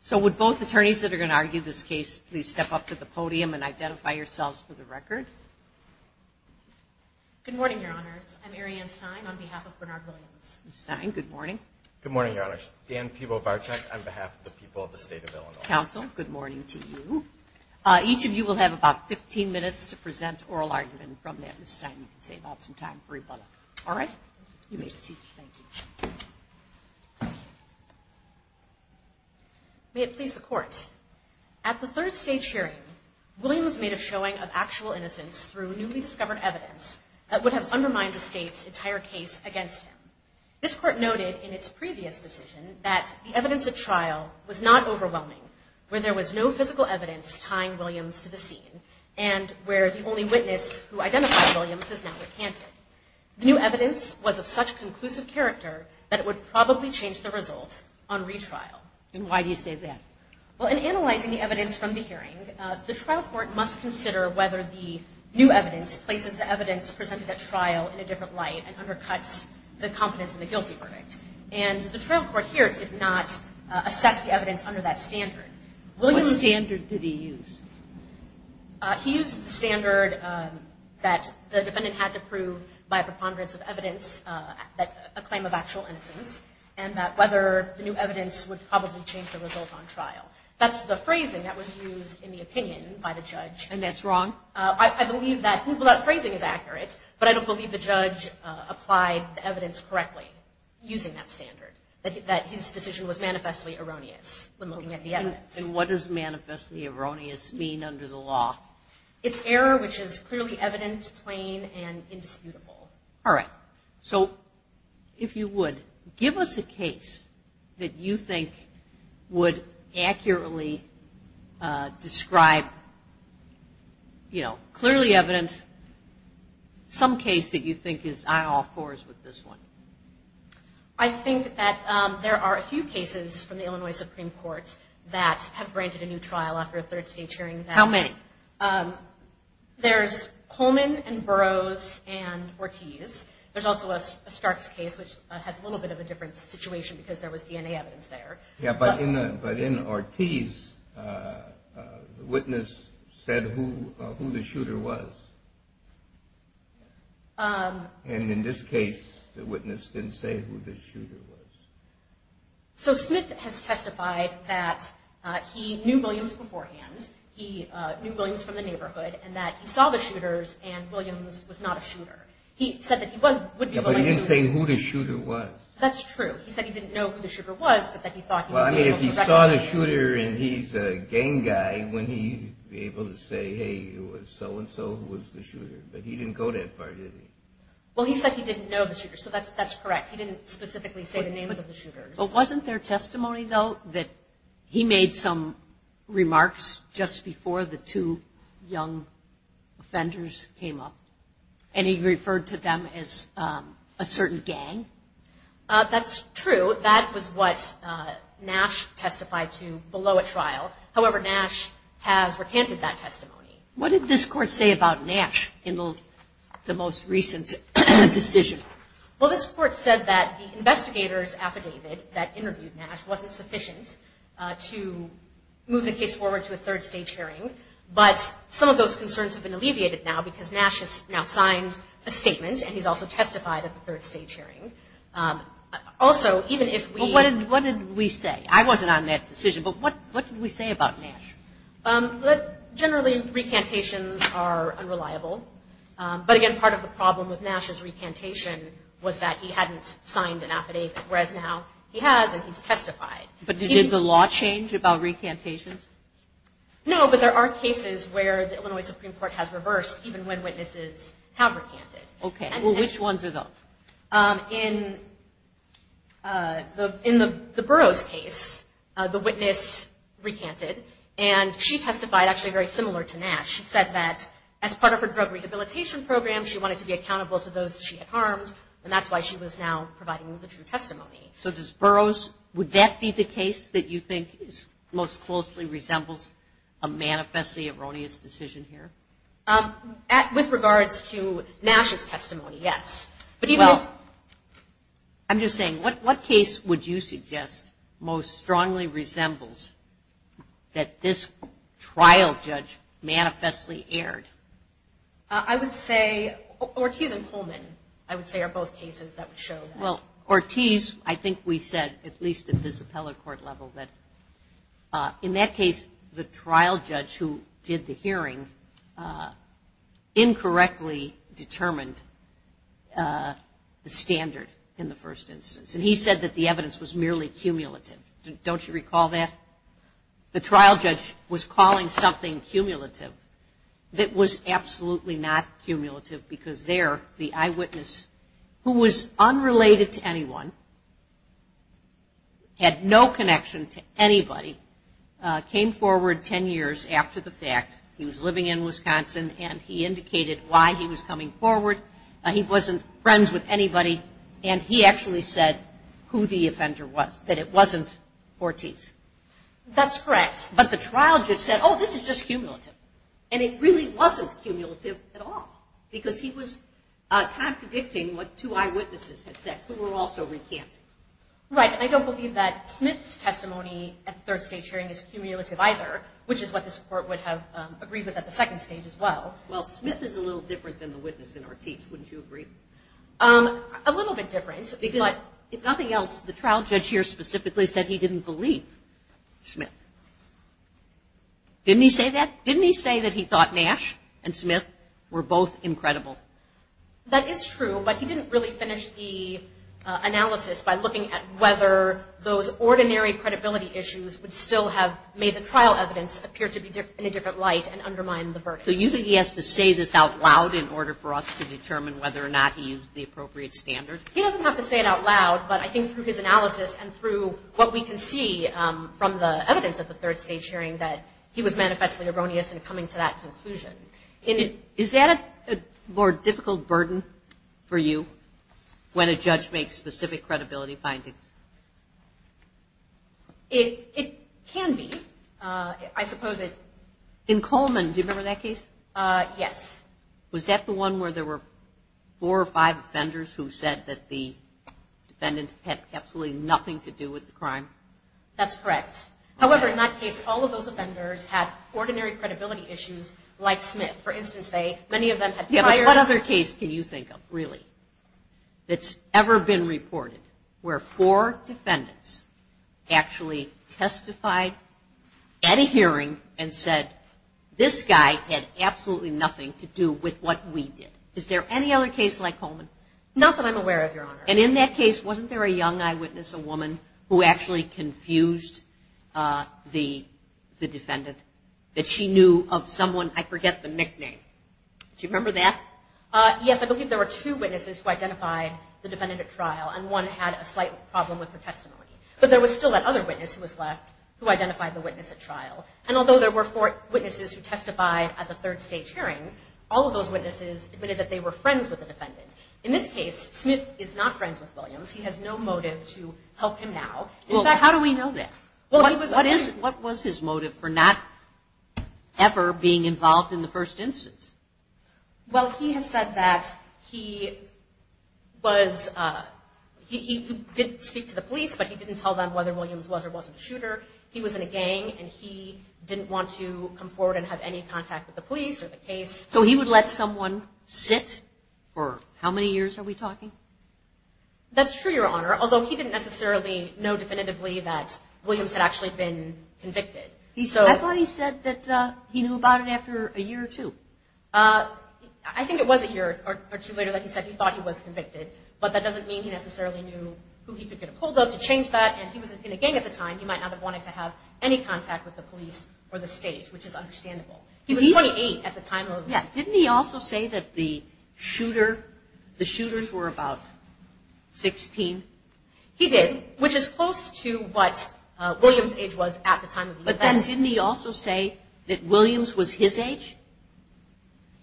So would both attorneys that are going to argue this case please step up to the podium and identify yourselves for the record? Good morning, Your Honors. I'm Arianne Stein on behalf of Bernard Williams. Ms. Stein, good morning. Good morning, Your Honors. Dan Pivovarczyk on behalf of the people of the state of Illinois. Counsel, good morning to you. Each of you will have about 15 minutes to present oral argument from that. Ms. Stein, you can save out some time for rebuttal. All right? You may be seated. Thank you. May it please the Court. At the third stage hearing, Williams made a showing of actual innocence through newly discovered evidence that would have undermined the state's entire case against him. This Court noted in its previous decision that the evidence at trial was not overwhelming, where there was no physical evidence tying Williams to the scene, and where the only witness who identified Williams is now recanted. The new evidence was of such conclusive character that it would probably change the result on retrial. And why do you say that? Well, in analyzing the evidence from the hearing, the trial court must consider whether the new evidence places the evidence presented at trial in a different light and undercuts the confidence in the guilty verdict. And the trial court here did not assess the evidence under that standard. What standard did he use? He used the standard that the defendant had to prove by preponderance of evidence a claim of actual innocence and that whether the new evidence would probably change the result on trial. That's the phrasing that was used in the opinion by the judge. And that's wrong? I believe that phrasing is accurate, but I don't believe the judge applied the evidence correctly using that standard, that his decision was manifestly erroneous when looking at the evidence. And what does manifestly erroneous mean under the law? It's error which is clearly evidence, plain, and indisputable. All right. So if you would, give us a case that you think would accurately describe, you know, clearly evidence, some case that you think is eye-off-course with this one. I think that there are a few cases from the Illinois Supreme Court that have granted a new trial after a third-stage hearing. How many? There's Coleman and Burroughs and Ortiz. There's also a Starks case which has a little bit of a different situation because there was DNA evidence there. Yeah, but in Ortiz, the witness said who the shooter was. And in this case, the witness didn't say who the shooter was. So Smith has testified that he knew Williams beforehand, he knew Williams from the neighborhood, and that he saw the shooters and Williams was not a shooter. He said that he wouldn't be willing to – Yeah, but he didn't say who the shooter was. That's true. He said he didn't know who the shooter was, but that he thought he would be able to – Well, he said he didn't know the shooter, so that's correct. He didn't specifically say the names of the shooters. But wasn't there testimony, though, that he made some remarks just before the two young offenders came up and he referred to them as a certain gang? That's true. That was what Nash testified to below a trial. However, Nash has recanted that testimony. What did this court say about Nash in the most recent decision? Well, this court said that the investigator's affidavit that interviewed Nash wasn't sufficient to move the case forward to a third-stage hearing, but some of those concerns have been alleviated now because Nash has now signed a statement and he's also testified at the third-stage hearing. Also, even if we – Well, what did we say? I wasn't on that decision, but what did we say about Nash? Generally, recantations are unreliable. But again, part of the problem with Nash's recantation was that he hadn't signed an affidavit, whereas now he has and he's testified. But did the law change about recantations? No, but there are cases where the Illinois Supreme Court has reversed even when witnesses have recanted. Okay. Well, which ones are those? In the Burroughs case, the witness recanted, and she testified actually very similar to Nash. She said that as part of her drug rehabilitation program, she wanted to be accountable to those she had harmed, and that's why she was now providing the true testimony. So does Burroughs – would that be the case that you think most closely resembles a manifestly erroneous decision here? With regards to Nash's testimony, yes. Well, I'm just saying, what case would you suggest most strongly resembles that this trial judge manifestly erred? I would say Ortiz and Pullman, I would say, are both cases that would show that. Well, Ortiz, I think we said, at least at this appellate court level, that in that case, the trial judge who did the hearing incorrectly determined the standard in the first instance. And he said that the evidence was merely cumulative. Don't you recall that? The trial judge was calling something cumulative that was absolutely not cumulative, because there the eyewitness, who was unrelated to anyone, had no connection to anybody, came forward ten years after the fact. He was living in Wisconsin, and he indicated why he was coming forward. He wasn't friends with anybody, and he actually said who the offender was, that it wasn't Ortiz. That's correct. But the trial judge said, oh, this is just cumulative. And it really wasn't cumulative at all, because he was contradicting what two eyewitnesses had said, who were also recanted. Right. And I don't believe that Smith's testimony at the third stage hearing is cumulative either, which is what this court would have agreed with at the second stage as well. Well, Smith is a little different than the witness in Ortiz. Wouldn't you agree? A little bit different. But if nothing else, the trial judge here specifically said he didn't believe Smith. Didn't he say that? Didn't he say that he thought Nash and Smith were both incredible? That is true, but he didn't really finish the analysis by looking at whether those ordinary credibility issues would still have made the trial evidence appear to be in a different light and undermine the verdict. So you think he has to say this out loud in order for us to determine whether or not he used the appropriate standard? He doesn't have to say it out loud, but I think through his analysis and through what we can see from the evidence at the third stage hearing that he was manifestly erroneous in coming to that conclusion. Is that a more difficult burden for you when a judge makes specific credibility findings? It can be. I suppose it – In Coleman, do you remember that case? Yes. Was that the one where there were four or five offenders who said that the defendant had absolutely nothing to do with the crime? That's correct. However, in that case, all of those offenders had ordinary credibility issues like Smith. For instance, many of them had pliers. What other case can you think of, really, that's ever been reported where four defendants actually testified at a hearing and said, this guy had absolutely nothing to do with what we did? Is there any other case like Coleman? Not that I'm aware of, Your Honor. And in that case, wasn't there a young eyewitness, a woman, who actually confused the defendant that she knew of someone – I forget the nickname. Do you remember that? Yes. I believe there were two witnesses who identified the defendant at trial, and one had a slight problem with her testimony. But there was still that other witness who was left who identified the witness at trial. And although there were four witnesses who testified at the third stage hearing, all of those witnesses admitted that they were friends with the defendant. In this case, Smith is not friends with Williams. He has no motive to help him now. How do we know that? What was his motive for not ever being involved in the first instance? Well, he has said that he was – he did speak to the police, but he didn't tell them whether Williams was or wasn't a shooter. He was in a gang, and he didn't want to come forward and have any contact with the police or the case. So he would let someone sit for – how many years are we talking? That's true, Your Honor, although he didn't necessarily know definitively that Williams had actually been convicted. I thought he said that he knew about it after a year or two. I think it was a year or two later that he said he thought he was convicted, but that doesn't mean he necessarily knew who he could get a hold of to change that. And he was in a gang at the time. He might not have wanted to have any contact with the police or the state, which is understandable. He was 28 at the time of – Yeah, didn't he also say that the shooter – the shooters were about 16? He did, which is close to what Williams' age was at the time of the event. But then didn't he also say that Williams was his age?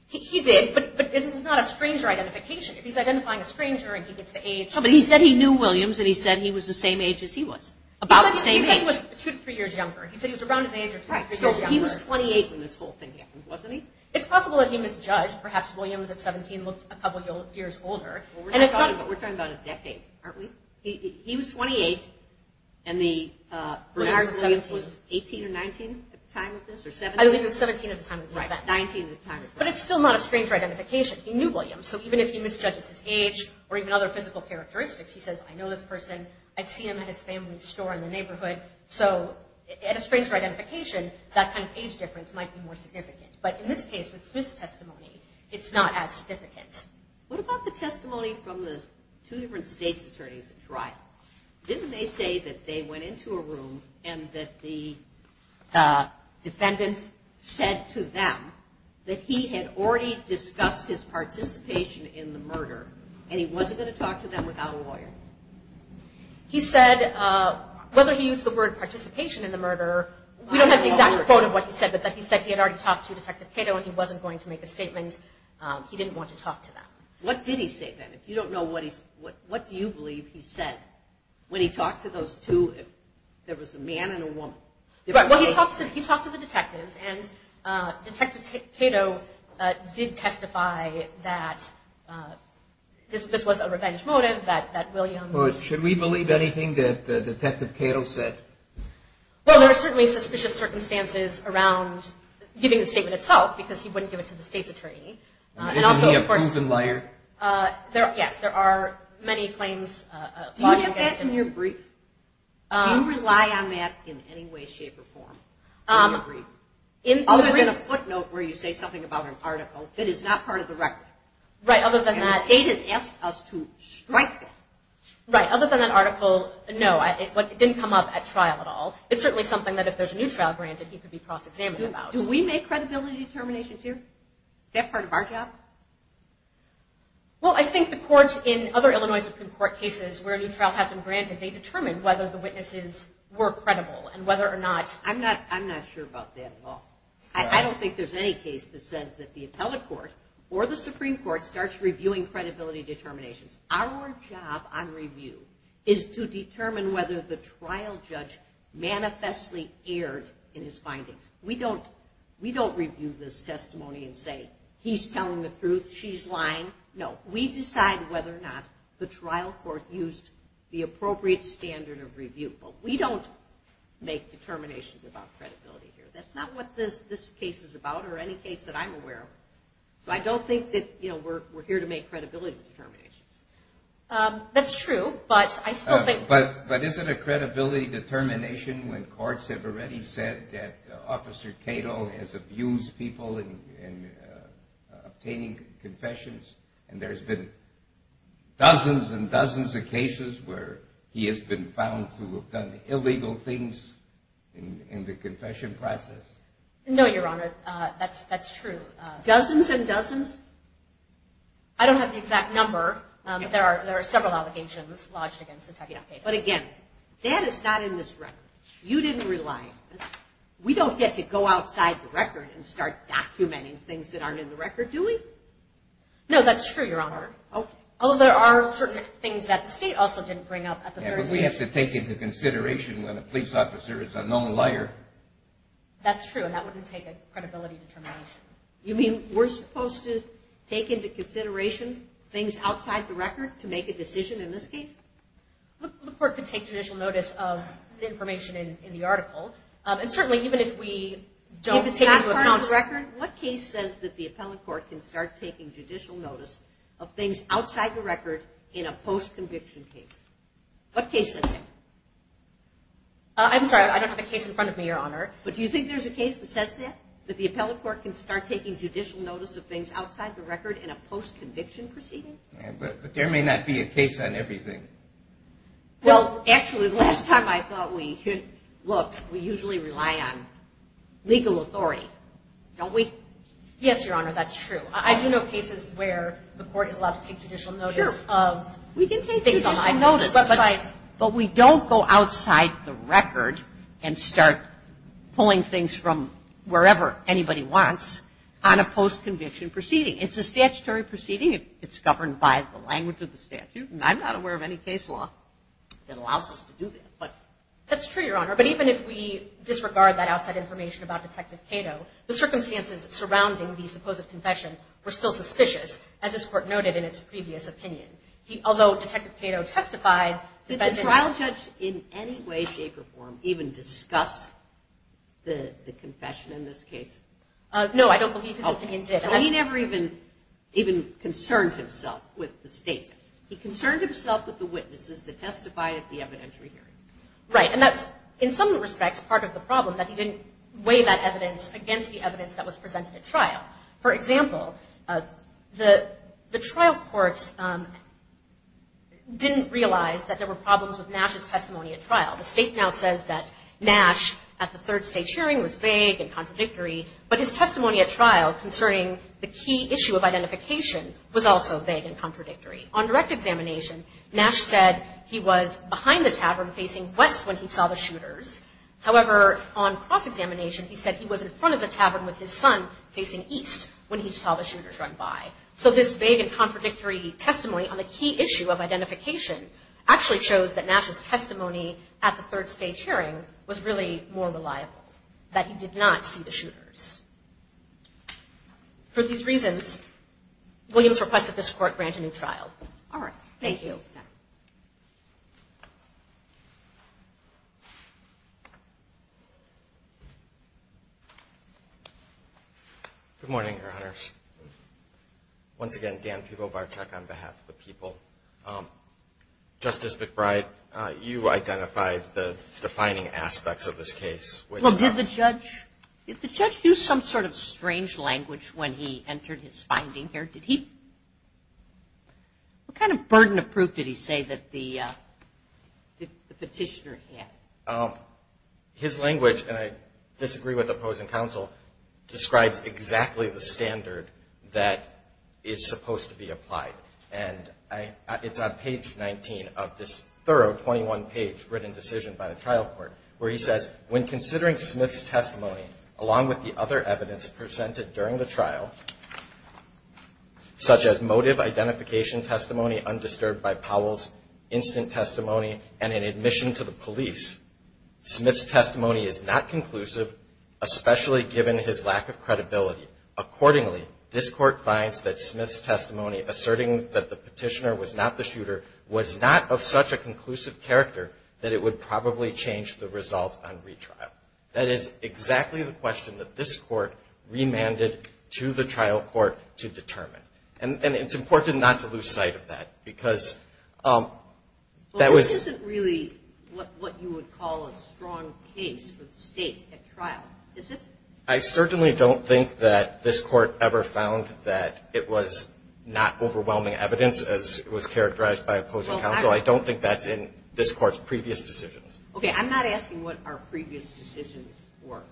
He did, but this is not a stranger identification. If he's identifying a stranger and he gets the age – But he said he knew Williams, and he said he was the same age as he was, about the same age. He said he was two to three years younger. He said he was around his age or two to three years younger. Right, so he was 28 when this whole thing happened, wasn't he? It's possible that he misjudged. Perhaps Williams at 17 looked a couple years older. Well, we're talking about a decade, aren't we? He was 28, and the – And Williams was 18 or 19 at the time of this, or 17? I believe it was 17 at the time of the event. Right. 19 at the time of the event. But it's still not a stranger identification. He knew Williams. So even if he misjudges his age or even other physical characteristics, he says, I know this person. I've seen him at his family's store in the neighborhood. So at a stranger identification, that kind of age difference might be more significant. But in this case, with Smith's testimony, it's not as significant. What about the testimony from the two different state's attorneys at trial? Didn't they say that they went into a room and that the defendant said to them that he had already discussed his participation in the murder and he wasn't going to talk to them without a lawyer? He said whether he used the word participation in the murder, we don't have the exact quote of what he said, but that he said he had already talked to Detective Cato and he wasn't going to make a statement. He didn't want to talk to them. What did he say then? If you don't know what he said, what do you believe he said? When he talked to those two, there was a man and a woman. Well, he talked to the detectives, and Detective Cato did testify that this was a revenge motive that Williams. Should we believe anything that Detective Cato said? Well, there are certainly suspicious circumstances around giving the statement itself because he wouldn't give it to the state's attorney. Isn't he a proven liar? Yes, there are many claims. Do you get that in your brief? Do you rely on that in any way, shape, or form in your brief? Other than a footnote where you say something about an article that is not part of the record. Right, other than that. And the state has asked us to strike that. Right, other than that article, no, it didn't come up at trial at all. It's certainly something that if there's a new trial granted, he could be cross-examined about. Do we make credibility determinations here? Is that part of our job? Well, I think the courts in other Illinois Supreme Court cases where a new trial has been granted, they determine whether the witnesses were credible and whether or not. I'm not sure about that at all. I don't think there's any case that says that the appellate court or the Supreme Court starts reviewing credibility determinations. Our job on review is to determine whether the trial judge manifestly erred in his findings. We don't review this testimony and say, he's telling the truth, she's lying. No, we decide whether or not the trial court used the appropriate standard of review. But we don't make determinations about credibility here. That's not what this case is about or any case that I'm aware of. So I don't think that we're here to make credibility determinations. That's true, but I still think. But isn't a credibility determination when courts have already said that Officer Cato has abused people in obtaining confessions and there's been dozens and dozens of cases where he has been found to have done illegal things in the confession process? No, Your Honor, that's true. Dozens and dozens? I don't have the exact number, but there are several allegations lodged against Sotokia Cato. But again, that is not in this record. You didn't rely. We don't get to go outside the record and start documenting things that aren't in the record, do we? No, that's true, Your Honor. Oh, there are certain things that the state also didn't bring up. Yeah, but we have to take into consideration when a police officer is a known liar. That's true, and that wouldn't take a credibility determination. You mean we're supposed to take into consideration things outside the record to make a decision in this case? The court could take judicial notice of information in the article, and certainly even if we don't take into account... If it's not part of the record, what case says that the appellate court can start taking judicial notice of things outside the record in a post-conviction case? What case says that? I'm sorry, I don't have a case in front of me, Your Honor, but do you think there's a case that says that, that the appellate court can start taking judicial notice of things outside the record in a post-conviction proceeding? Yeah, but there may not be a case on everything. Well, actually, the last time I thought we looked, we usually rely on legal authority, don't we? Yes, Your Honor, that's true. I do know cases where the court is allowed to take judicial notice of... Sure, we can take judicial notice, but we don't go outside the record and start pulling things from wherever anybody wants on a post-conviction proceeding. It's a statutory proceeding. It's governed by the language of the statute, and I'm not aware of any case law that allows us to do that. That's true, Your Honor, but even if we disregard that outside information about Detective Cato, the circumstances surrounding the supposed confession were still suspicious, as this Court noted in its previous opinion. Although Detective Cato testified... Did the trial judge in any way, shape, or form even discuss the confession in this case? No, I don't believe his opinion did. He never even concerned himself with the statement. He concerned himself with the witnesses that testified at the evidentiary hearing. Right, and that's, in some respects, part of the problem, that he didn't weigh that evidence against the evidence that was presented at trial. For example, the trial courts didn't realize that there were problems with Nash's testimony at trial. The state now says that Nash, at the third state hearing, was vague and contradictory, but his testimony at trial concerning the key issue of identification was also vague and contradictory. On direct examination, Nash said he was behind the tavern facing west when he saw the shooters. However, on cross-examination, he said he was in front of the tavern with his son facing east when he saw the shooters run by. So this vague and contradictory testimony on the key issue of identification actually shows that Nash's testimony at the third state hearing was really more reliable, that he did not see the shooters. For these reasons, Williams requested this court grant a new trial. All right. Thank you. Good morning, Your Honors. Once again, Dan Pivovarczyk on behalf of the people. Justice McBride, you identified the defining aspects of this case. Well, did the judge use some sort of strange language when he entered his finding here? What kind of burden of proof did he say that the petitioner had? His language, and I disagree with opposing counsel, describes exactly the standard that is supposed to be applied. And it's on page 19 of this thorough 21-page written decision by the trial court where he says, when considering Smith's testimony along with the other evidence presented during the trial, such as motive identification testimony undisturbed by Powell's instant testimony and an admission to the police, Smith's testimony is not conclusive, especially given his lack of credibility. Accordingly, this court finds that Smith's testimony, asserting that the petitioner was not the shooter, was not of such a conclusive character that it would probably change the result on retrial. That is exactly the question that this court remanded to the trial court to determine. And it's important not to lose sight of that because that was. This isn't really what you would call a strong case for the state at trial, is it? I certainly don't think that this court ever found that it was not overwhelming evidence as was characterized by opposing counsel. I don't think that's in this court's previous decisions. Okay, I'm not asking what our previous decisions were.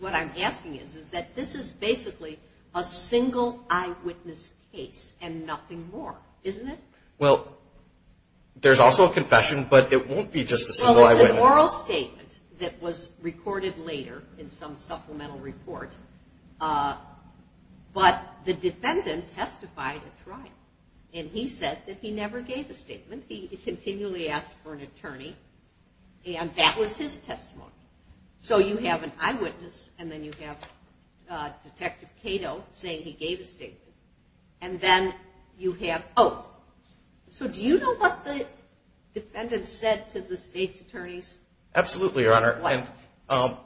What I'm asking is that this is basically a single eyewitness case and nothing more, isn't it? Well, there's also a confession, but it won't be just a single eyewitness. There was an oral statement that was recorded later in some supplemental report, but the defendant testified at trial. And he said that he never gave a statement. He continually asked for an attorney, and that was his testimony. So you have an eyewitness and then you have Detective Cato saying he gave a statement. And then you have, oh, so do you know what the defendant said to the state's attorneys? Absolutely, Your Honor. What?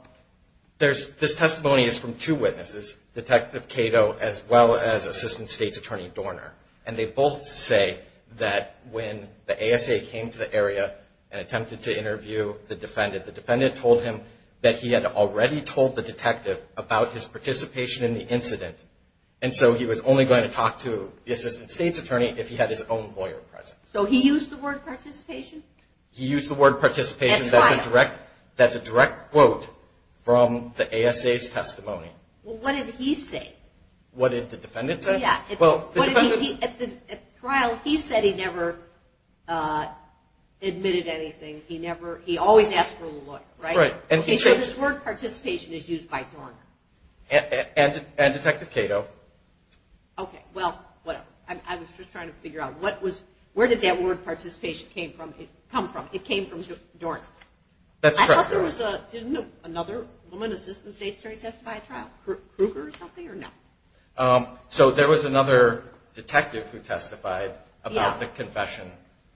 This testimony is from two witnesses, Detective Cato as well as Assistant State's Attorney Dorner. And they both say that when the ASA came to the area and attempted to interview the defendant, the defendant told him that he had already told the detective about his participation in the incident. And so he was only going to talk to the Assistant State's Attorney if he had his own lawyer present. So he used the word participation? He used the word participation. At trial. That's a direct quote from the ASA's testimony. Well, what did he say? What did the defendant say? Yeah. At trial, he said he never admitted anything. He always asked for the lawyer, right? Right. And so this word participation is used by Dorner. And Detective Cato. Okay. Well, whatever. I was just trying to figure out what was – where did that word participation come from? It came from Dorner. That's correct, Dorner. I thought there was another woman, Assistant State's Attorney testified at trial, Kruger or something or no? So there was another detective who testified about the confession.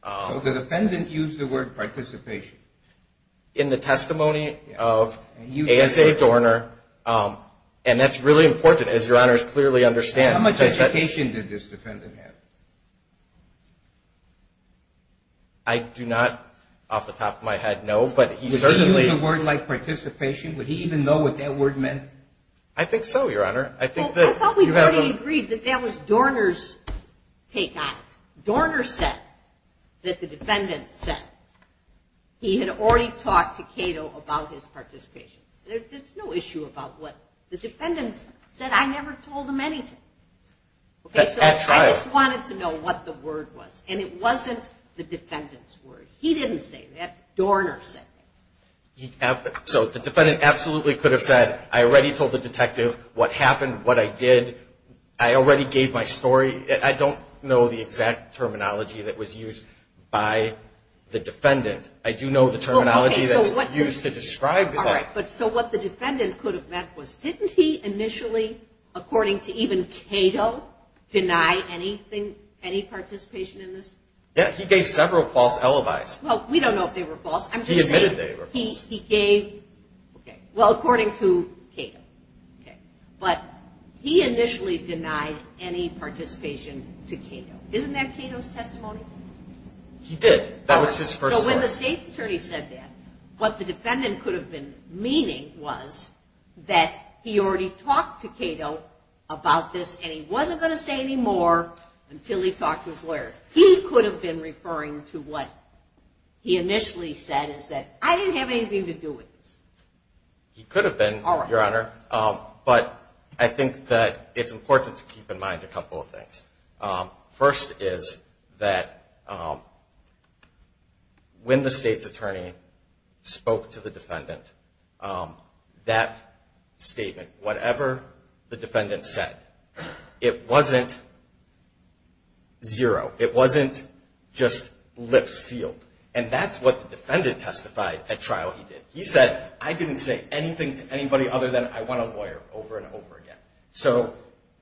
So the defendant used the word participation. In the testimony of ASA Dorner. And that's really important, as Your Honors clearly understand. How much education did this defendant have? I do not, off the top of my head, know. But he certainly – Would he use a word like participation? Would he even know what that word meant? I think so, Your Honor. Well, I thought we already agreed that that was Dorner's take on it. Dorner said that the defendant said he had already talked to Cato about his participation. There's no issue about what the defendant said. I never told him anything. At trial. I just wanted to know what the word was. And it wasn't the defendant's word. He didn't say that. Dorner said that. So the defendant absolutely could have said, I already told the detective what happened, what I did. I already gave my story. I don't know the exact terminology that was used by the defendant. I do know the terminology that's used to describe that. All right, but so what the defendant could have meant was didn't he initially, according to even Cato, deny anything, any participation in this? Yeah, he gave several false alibis. Well, we don't know if they were false. He admitted they were false. He gave – well, according to Cato. But he initially denied any participation to Cato. Isn't that Cato's testimony? He did. That was his first story. When the state's attorney said that, what the defendant could have been meaning was that he already talked to Cato about this and he wasn't going to say any more until he talked to his lawyer. He could have been referring to what he initially said is that I didn't have anything to do with this. He could have been, Your Honor. But I think that it's important to keep in mind a couple of things. First is that when the state's attorney spoke to the defendant, that statement, whatever the defendant said, it wasn't zero. It wasn't just lips sealed. And that's what the defendant testified at trial he did. He said, I didn't say anything to anybody other than I want a lawyer over and over again. So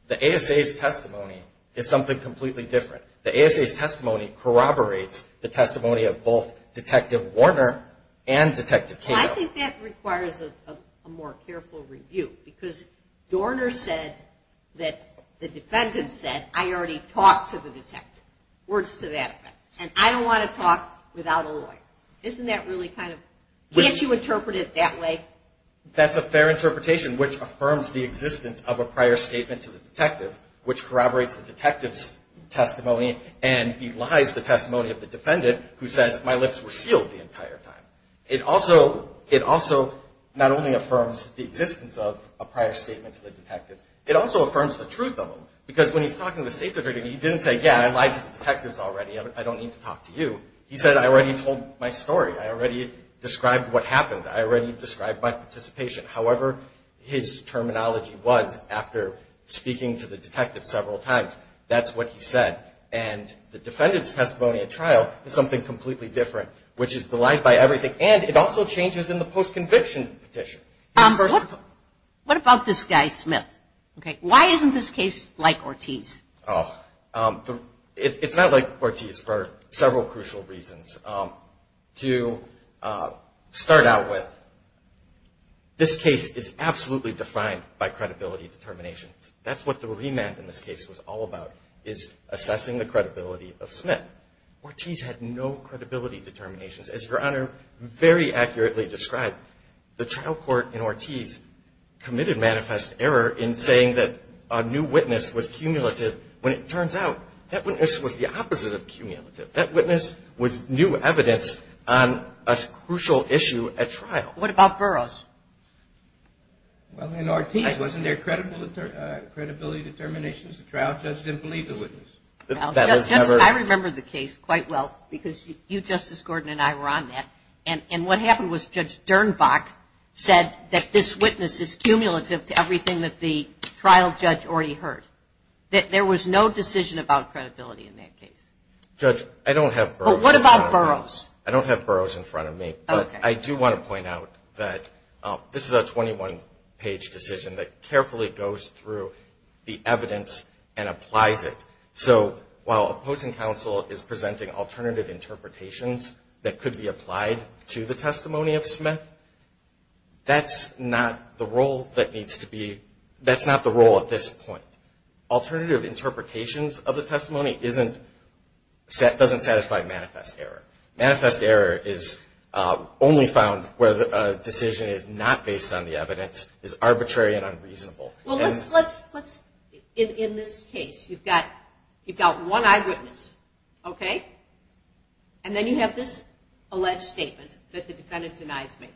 the ASA's testimony is something completely different. The ASA's testimony corroborates the testimony of both Detective Warner and Detective Cato. Well, I think that requires a more careful review because Dorner said that the defendant said, I already talked to the detective. Words to that effect. And I don't want to talk without a lawyer. Isn't that really kind of – can't you interpret it that way? Well, that's a fair interpretation which affirms the existence of a prior statement to the detective, which corroborates the detective's testimony and belies the testimony of the defendant who says, my lips were sealed the entire time. It also not only affirms the existence of a prior statement to the detective, it also affirms the truth of them. Because when he's talking to the state's attorney, he didn't say, yeah, I lied to the detectives already. I don't need to talk to you. He said, I already told my story. I already described what happened. I already described my participation. However, his terminology was, after speaking to the detective several times, that's what he said. And the defendant's testimony at trial is something completely different, which is belied by everything. And it also changes in the post-conviction petition. What about this guy, Smith? Why isn't this case like Ortiz? It's not like Ortiz for several crucial reasons. To start out with, this case is absolutely defined by credibility determinations. That's what the remand in this case was all about, is assessing the credibility of Smith. Ortiz had no credibility determinations. As Your Honor very accurately described, the trial court in Ortiz committed manifest error in saying that a new witness was cumulative when it turns out that witness was the opposite of cumulative. That witness was new evidence on a crucial issue at trial. What about Burroughs? Well, in Ortiz, wasn't there credibility determinations? The trial judge didn't believe the witness. I remember the case quite well because you, Justice Gordon, and I were on that. And what happened was Judge Dernbach said that this witness is cumulative to everything that the trial judge already heard. There was no decision about credibility in that case. Judge, I don't have Burroughs in front of me. But what about Burroughs? I don't have Burroughs in front of me. Okay. But I do want to point out that this is a 21-page decision that carefully goes through the evidence and applies it. So while opposing counsel is presenting alternative interpretations that could be applied to the testimony of Smith, that's not the role that needs to be, that's not the role at this point. Alternative interpretations of the testimony doesn't satisfy manifest error. Manifest error is only found where the decision is not based on the evidence, is arbitrary and unreasonable. Well, let's, in this case, you've got one eyewitness, okay? And then you have this alleged statement that the defendant denies making,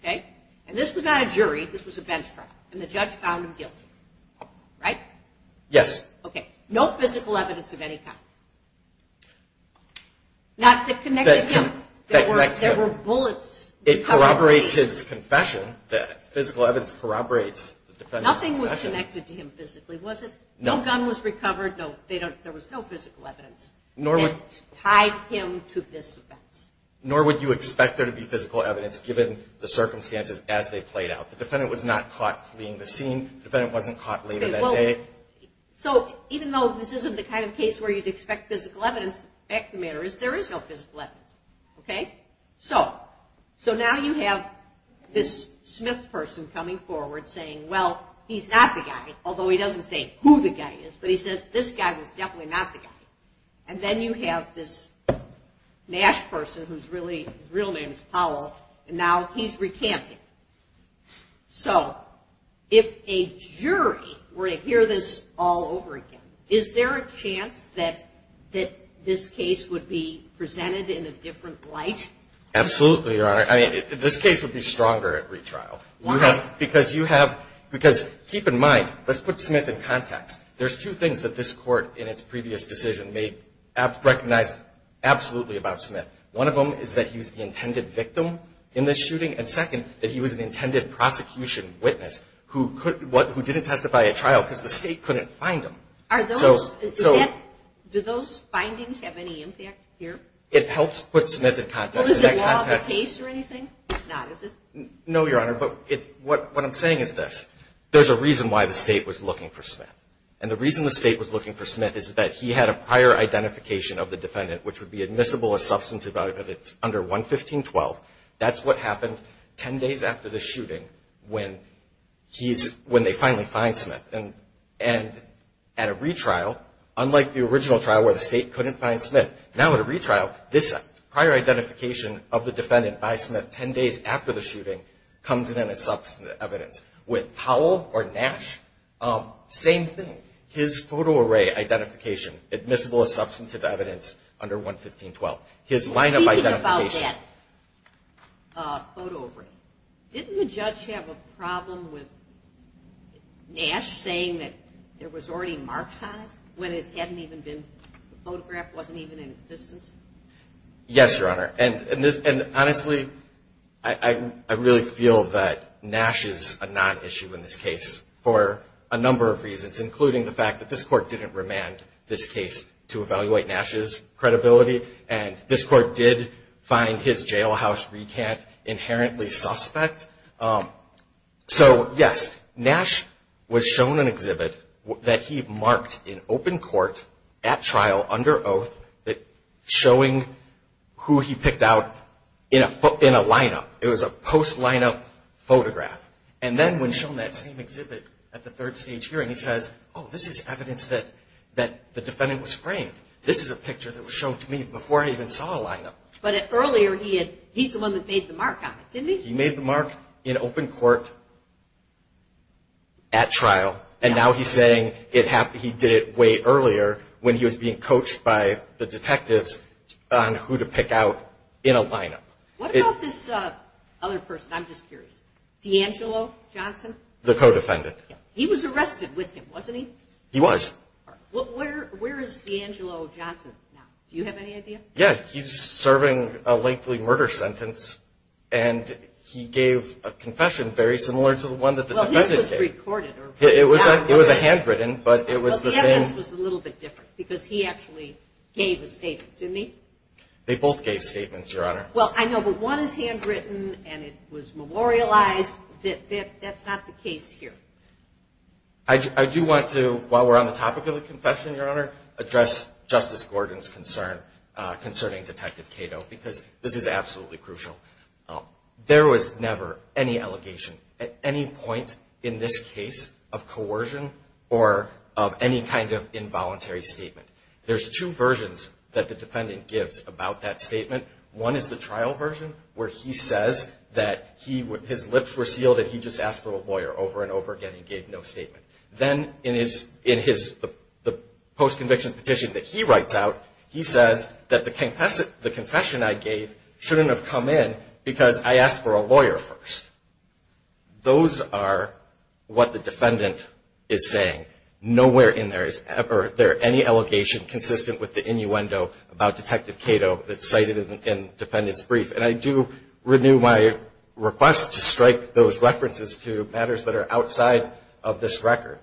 okay? And this was not a jury. This was a bench trial. And the judge found him guilty, right? Yes. Okay. No physical evidence of any kind. Not that connected him. There were bullets. It corroborates his confession that physical evidence corroborates the defendant's confession. Nothing was connected to him physically, was it? No. No gun was recovered. There was no physical evidence that tied him to this offense. Nor would you expect there to be physical evidence given the circumstances as they played out. The defendant was not caught fleeing the scene. The defendant wasn't caught later that day. So even though this isn't the kind of case where you'd expect physical evidence, the fact of the matter is there is no physical evidence, okay? So now you have this Smith person coming forward saying, well, he's not the guy, although he doesn't say who the guy is, but he says this guy was definitely not the guy. And then you have this Nash person whose real name is Powell, and now he's recanting. So if a jury were to hear this all over again, is there a chance that this case would be presented in a different light? Absolutely, Your Honor. I mean, this case would be stronger at retrial. Why? Because keep in mind, let's put Smith in context. There's two things that this Court in its previous decision recognized absolutely about Smith. One of them is that he was the intended victim in this shooting, and second, that he was an intended prosecution witness who didn't testify at trial because the State couldn't find him. Do those findings have any impact here? It helps put Smith in context. Is it law of the case or anything? No, Your Honor, but what I'm saying is this. There's a reason why the State was looking for Smith, and the reason the State was looking for Smith is that he had a prior identification of the defendant, which would be admissible as substantive evidence under 115.12. That's what happened ten days after the shooting when they finally find Smith. And at a retrial, unlike the original trial where the State couldn't find Smith, now at a retrial, this prior identification of the defendant by Smith ten days after the shooting comes in as substantive evidence. With Powell or Nash, same thing. His photo array identification, admissible as substantive evidence under 115.12. His lineup identification. Speaking about that photo array, didn't the judge have a problem with Nash saying that there was already marks on it when it hadn't even been photographed, wasn't even in existence? Yes, Your Honor. And honestly, I really feel that Nash is a non-issue in this case for a number of reasons, including the fact that this Court didn't remand this case to evaluate Nash's credibility, and this Court did find his jailhouse recant inherently suspect. So, yes, Nash was shown an exhibit that he marked in open court at trial under oath showing who he picked out in a lineup. It was a post-lineup photograph. And then when shown that same exhibit at the third stage hearing, he says, oh, this is evidence that the defendant was framed. This is a picture that was shown to me before I even saw a lineup. But earlier, he's the one that made the mark on it, didn't he? He made the mark in open court at trial, and now he's saying he did it way earlier when he was being coached by the detectives on who to pick out in a lineup. What about this other person? I'm just curious. D'Angelo Johnson? The co-defendant. He was arrested with him, wasn't he? He was. Where is D'Angelo Johnson now? Do you have any idea? Yes. He's serving a lately murder sentence, and he gave a confession very similar to the one that the defendant gave. It was recorded. It was a handwritten, but it was the same. Well, the evidence was a little bit different because he actually gave a statement, didn't he? They both gave statements, Your Honor. Well, I know, but one is handwritten and it was memorialized. That's not the case here. I do want to, while we're on the topic of the confession, Your Honor, address Justice Gordon's concern concerning Detective Cato because this is absolutely crucial. There was never any allegation at any point in this case of coercion or of any kind of involuntary statement. There's two versions that the defendant gives about that statement. One is the trial version where he says that his lips were sealed and he just asked for a lawyer over and over again and gave no statement. Then in the post-conviction petition that he writes out, he says that the confession I gave shouldn't have come in because I asked for a lawyer first. Those are what the defendant is saying. Nowhere in there is ever there any allegation consistent with the innuendo about Detective Cato that's cited in the defendant's brief, and I do renew my request to strike those references to matters that are outside of this record.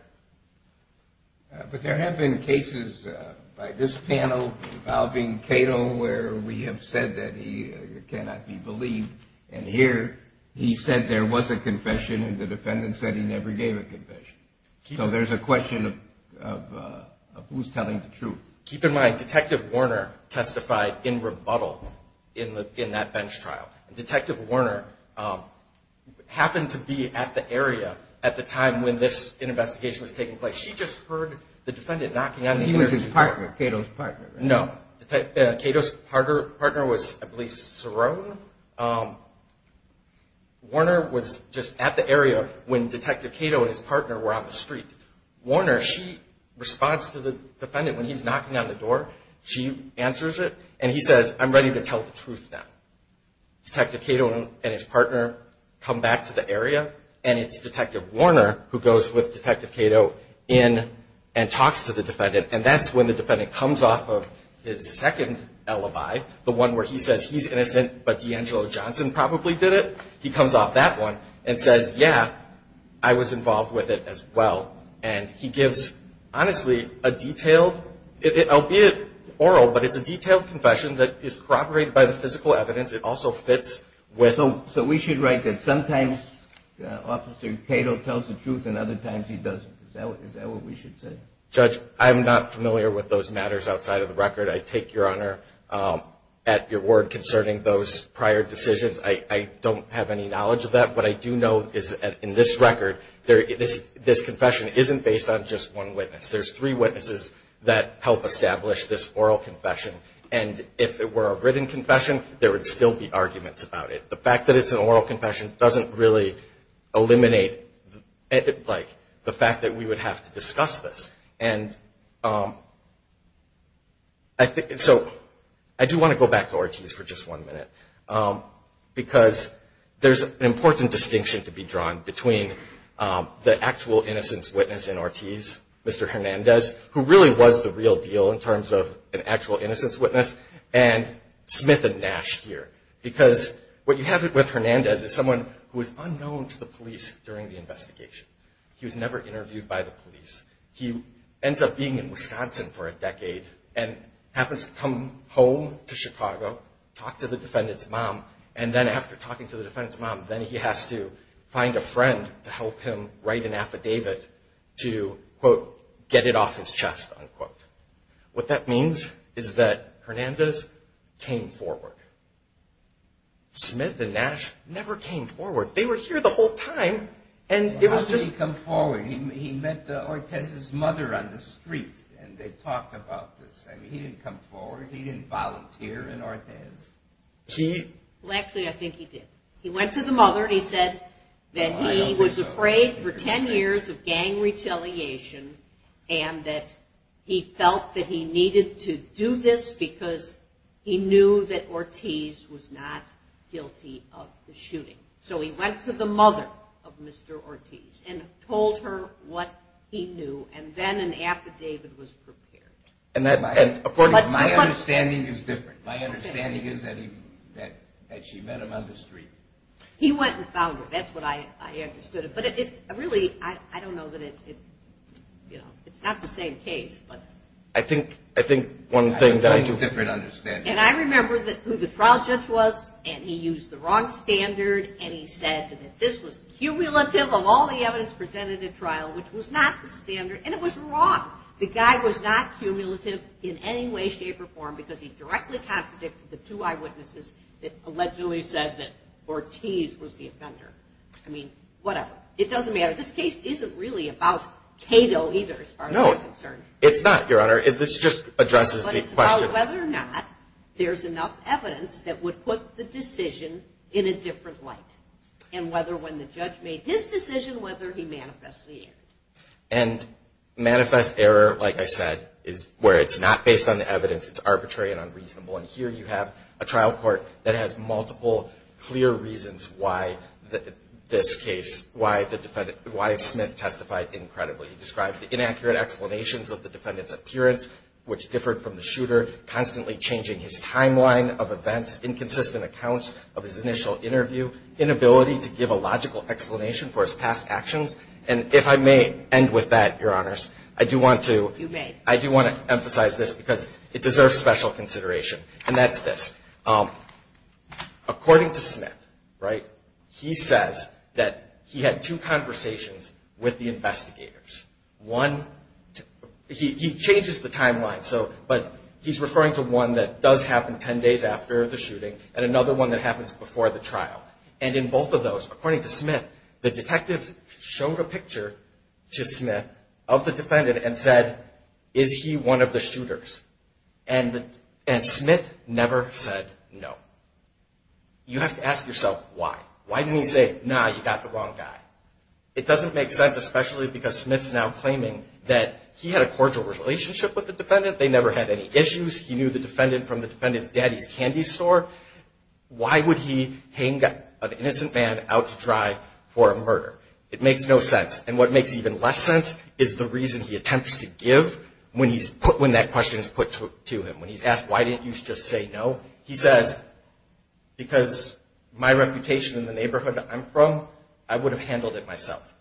But there have been cases by this panel involving Cato where we have said that he cannot be believed, and here he said there was a confession and the defendant said he never gave a confession. So there's a question of who's telling the truth. Keep in mind, Detective Warner testified in rebuttal in that bench trial. Detective Warner happened to be at the area at the time when this investigation was taking place. She just heard the defendant knocking on the door. Cato's partner was, I believe, Cerrone. Warner was just at the area when Detective Cato and his partner were on the street. Warner, she responds to the defendant when he's knocking on the door. She answers it, and he says, I'm ready to tell the truth now. Detective Cato and his partner come back to the area, and it's Detective Warner who goes with Detective Cato in and talks to the defendant, and that's when the defendant comes off of his second alibi, the one where he says he's innocent but D'Angelo Johnson probably did it. He comes off that one and says, yeah, I was involved with it as well, and he gives, honestly, a detailed, albeit oral, but it's a detailed confession that is corroborated by the physical evidence. It also fits with... So we should write that sometimes Officer Cato tells the truth and other times he doesn't. Is that what we should say? Judge, I'm not familiar with those matters outside of the record. I take your honor at your word concerning those prior decisions. I don't have any knowledge of that, but I do know in this record this confession isn't based on just one witness. There's three witnesses that help establish this oral confession, and if it were a written confession, there would still be arguments about it. The fact that it's an oral confession doesn't really eliminate the fact that we would have to discuss this. And so I do want to go back to Ortiz for just one minute, because there's an important distinction to be drawn between the actual innocence witness in Ortiz, Mr. Hernandez, who really was the real deal in terms of an actual innocence witness, and Smith and Nash here, because what you have with Hernandez is someone who is unknown to the police during the investigation. He was never interviewed by the police. He ends up being in Wisconsin for a decade and happens to come home to Chicago, talk to the defendant's mom, and then after talking to the defendant's mom, then he has to find a friend to help him write an affidavit to, quote, get it off his chest, unquote. What that means is that Hernandez came forward. Smith and Nash never came forward. They were here the whole time, and it was just... How did he come forward? He met Ortiz's mother on the street, and they talked about this. I mean, he didn't come forward. He didn't volunteer in Ortiz. Well, actually, I think he did. He went to the mother, and he said that he was afraid for 10 years of gang retaliation, and that he felt that he needed to do this because he knew that Ortiz was not guilty of the shooting. So he went to the mother of Mr. Ortiz and told her what he knew, and then an affidavit was prepared. My understanding is different. My understanding is that she met him on the street. He went and found her. That's what I understood. But really, I don't know that it's not the same case, but... I think one thing that I do... And I remember who the trial judge was, and he used the wrong standard, and he said that this was cumulative of all the evidence presented at trial, which was not the standard, and it was wrong. The guy was not cumulative in any way, shape, or form because he directly contradicted the two eyewitnesses that allegedly said that Ortiz was the offender. I mean, whatever. It doesn't matter. This case isn't really about Cato either, as far as I'm concerned. No, it's not, Your Honor. This just addresses the question. But it's about whether or not there's enough evidence that would put the decision in a different light, and whether when the judge made his decision, whether he manifests the error. And manifest error, like I said, is where it's not based on the evidence. It's arbitrary and unreasonable. And here you have a trial court that has multiple clear reasons why this case, why Smith testified incredibly. He described the inaccurate explanations of the defendant's appearance, which differed from the shooter, constantly changing his timeline of events, inconsistent accounts of his initial interview, inability to give a logical explanation for his past actions. And if I may end with that, Your Honors, I do want to emphasize this because it deserves special consideration. And that's this. According to Smith, right, he says that he had two conversations with the investigators. One, he changes the timeline, but he's referring to one that does happen ten days after the shooting, and another one that happens before the trial. And in both of those, according to Smith, the detectives showed a picture to Smith of the defendant and said, is he one of the shooters? And Smith never said no. You have to ask yourself, why? Why didn't he say, nah, you got the wrong guy? It doesn't make sense, especially because Smith's now claiming that he had a cordial relationship with the defendant. They never had any issues. He knew the defendant from the defendant's daddy's candy store. Why would he hang an innocent man out to dry for a murder? It makes no sense. And what makes even less sense is the reason he attempts to give when he's put, when that question is put to him, when he's asked, why didn't you just say no? He says, because my reputation in the neighborhood I'm from, I would have handled it myself.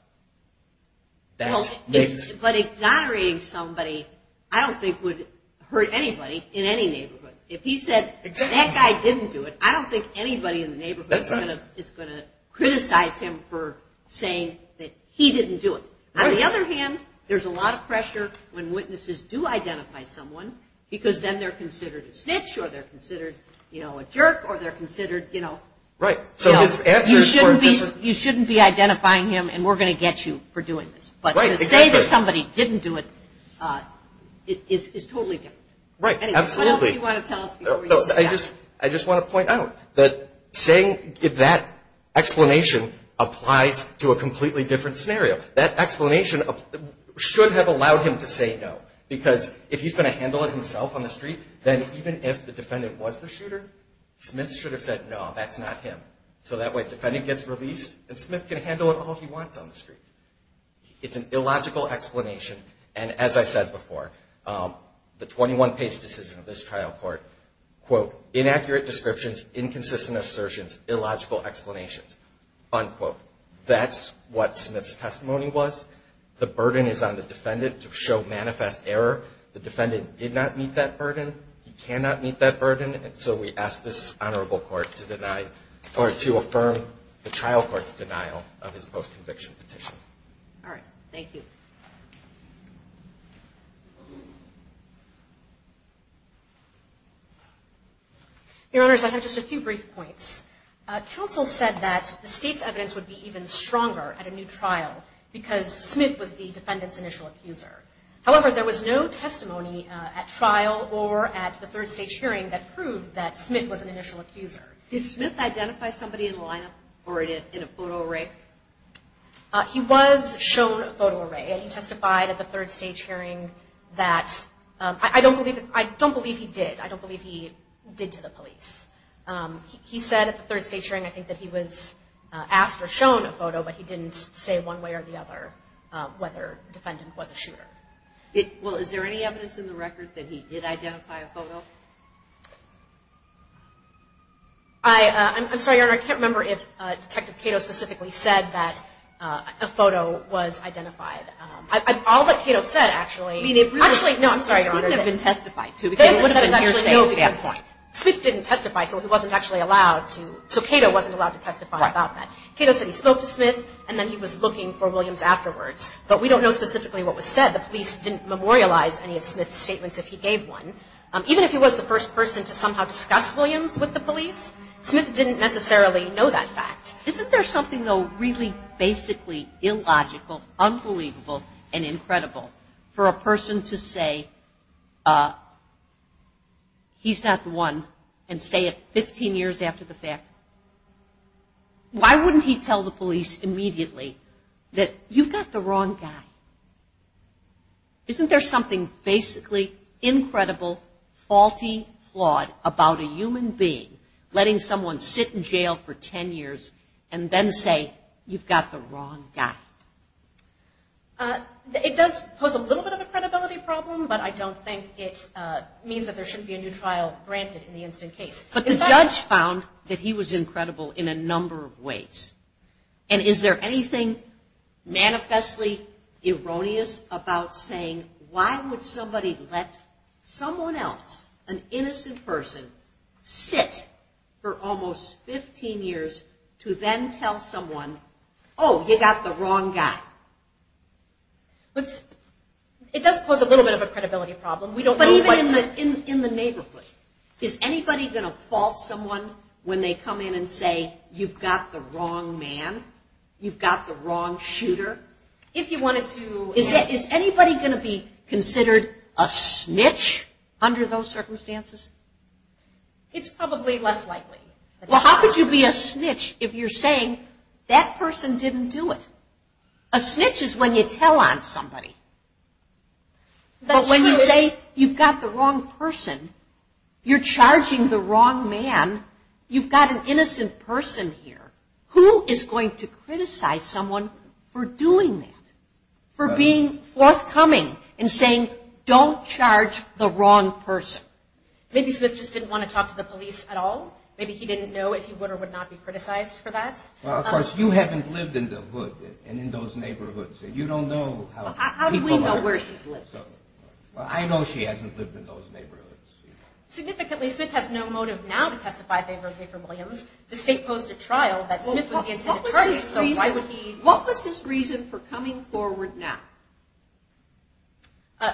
But exonerating somebody I don't think would hurt anybody in any neighborhood. If he said, that guy didn't do it, I don't think anybody in the neighborhood is going to criticize him for saying that he didn't do it. On the other hand, there's a lot of pressure when witnesses do identify someone, because then they're considered a snitch, or they're considered a jerk, or they're considered, you know, you shouldn't be identifying him, and we're going to get you for doing this. But to say that somebody didn't do it is totally different. Right. Absolutely. I just want to point out that saying that explanation applies to a completely different scenario. That explanation should have allowed him to say no, because if he's going to handle it himself on the street, then even if the defendant was the shooter, Smith should have said, no, that's not him. So that way the defendant gets released, and Smith can handle it all he wants on the street. It's an illogical explanation, and as I said before, the 21-page decision of this trial court, quote, inaccurate descriptions, inconsistent assertions, illogical explanations, unquote. That's what Smith's testimony was. The burden is on the defendant to show manifest error. The defendant did not meet that burden. He cannot meet that burden. And so we ask this honorable court to affirm the trial court's denial of his post-conviction petition. All right. Thank you. Your Honors, I have just a few brief points. Counsel said that the State's evidence would be even stronger at a new trial, because Smith was the defendant's initial accuser. However, there was no testimony at trial or at the third stage hearing that proved that Smith was an initial accuser. Did Smith identify somebody in the lineup or in a photo array? He was shown a photo array, and he testified at the third stage hearing that I don't believe he did. I don't believe he did to the police. He said at the third stage hearing I think that he was asked or shown a photo, but he didn't say one way or the other whether the defendant was a shooter. Well, is there any evidence in the record that he did identify a photo? I'm sorry, Your Honor. I can't remember if Detective Cato specifically said that a photo was identified. All that Cato said, actually. Smith didn't testify, so he wasn't actually allowed to. So Cato wasn't allowed to testify about that. Cato said he spoke to Smith, and then he was looking for Williams afterwards, but we don't know specifically what was said. The police didn't memorialize any of Smith's statements if he gave one. Even if he was the first person to somehow discuss Williams with the police, Smith didn't necessarily know that fact. Isn't there something, though, really basically illogical, unbelievable, and incredible for a person to say he's not the one and say it 15 years after the fact? Why wouldn't he tell the police immediately that you've got the wrong guy? Isn't there something basically incredible, faulty, flawed about a human being letting someone sit in jail for 10 years and then say you've got the wrong guy? It does pose a little bit of a credibility problem, but I don't think it means that there shouldn't be a new trial granted in the instant case. But the judge found that he was incredible in a number of ways. And is there anything manifestly erroneous about saying why would somebody let someone else, an innocent person, sit for almost 15 years to then tell someone, oh, you've got the wrong guy? It does pose a little bit of a credibility problem. But even in the neighborhood, is anybody going to fault someone when they come in and say, you've got the wrong man, you've got the wrong shooter? Is anybody going to be considered a snitch under those circumstances? It's probably less likely. Well, how could you be a snitch if you're saying that person didn't do it? A snitch is when you tell on somebody. But when you say you've got the wrong person, you're charging the wrong man, you've got an innocent person here. Who is going to criticize someone for doing that, for being forthcoming and saying, don't charge the wrong person? Maybe Smith just didn't want to talk to the police at all. Maybe he didn't know if he would or would not be criticized for that. Well, of course, you haven't lived in the hood and in those neighborhoods, and you don't know how people are. Well, I know she hasn't lived in those neighborhoods. Significantly, Smith has no motive now to testify in favor of Gafer Williams. The state posed a trial that Smith was the intended target, so why would he? What was his reason for coming forward now?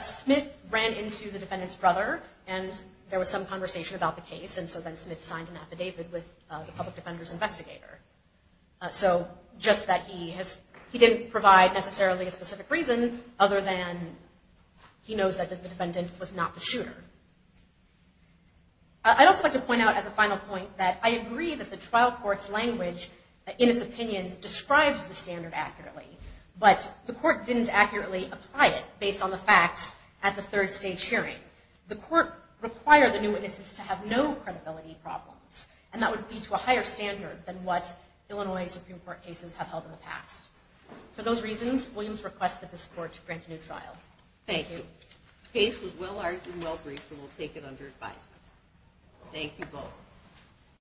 Smith ran into the defendant's brother, and there was some conversation about the case, and so then Smith signed an affidavit with the public defender's investigator. Just that he didn't provide necessarily a specific reason, other than he knows that the defendant was not the shooter. I'd also like to point out as a final point that I agree that the trial court's language, in its opinion, describes the standard accurately, but the court didn't accurately apply it based on the facts at the third stage hearing. The court required the new witnesses to have no credibility problems, and that would be to a higher standard than what Illinois Supreme Court cases have held in the past. For those reasons, Williams requests that this court grant a new trial. Thank you.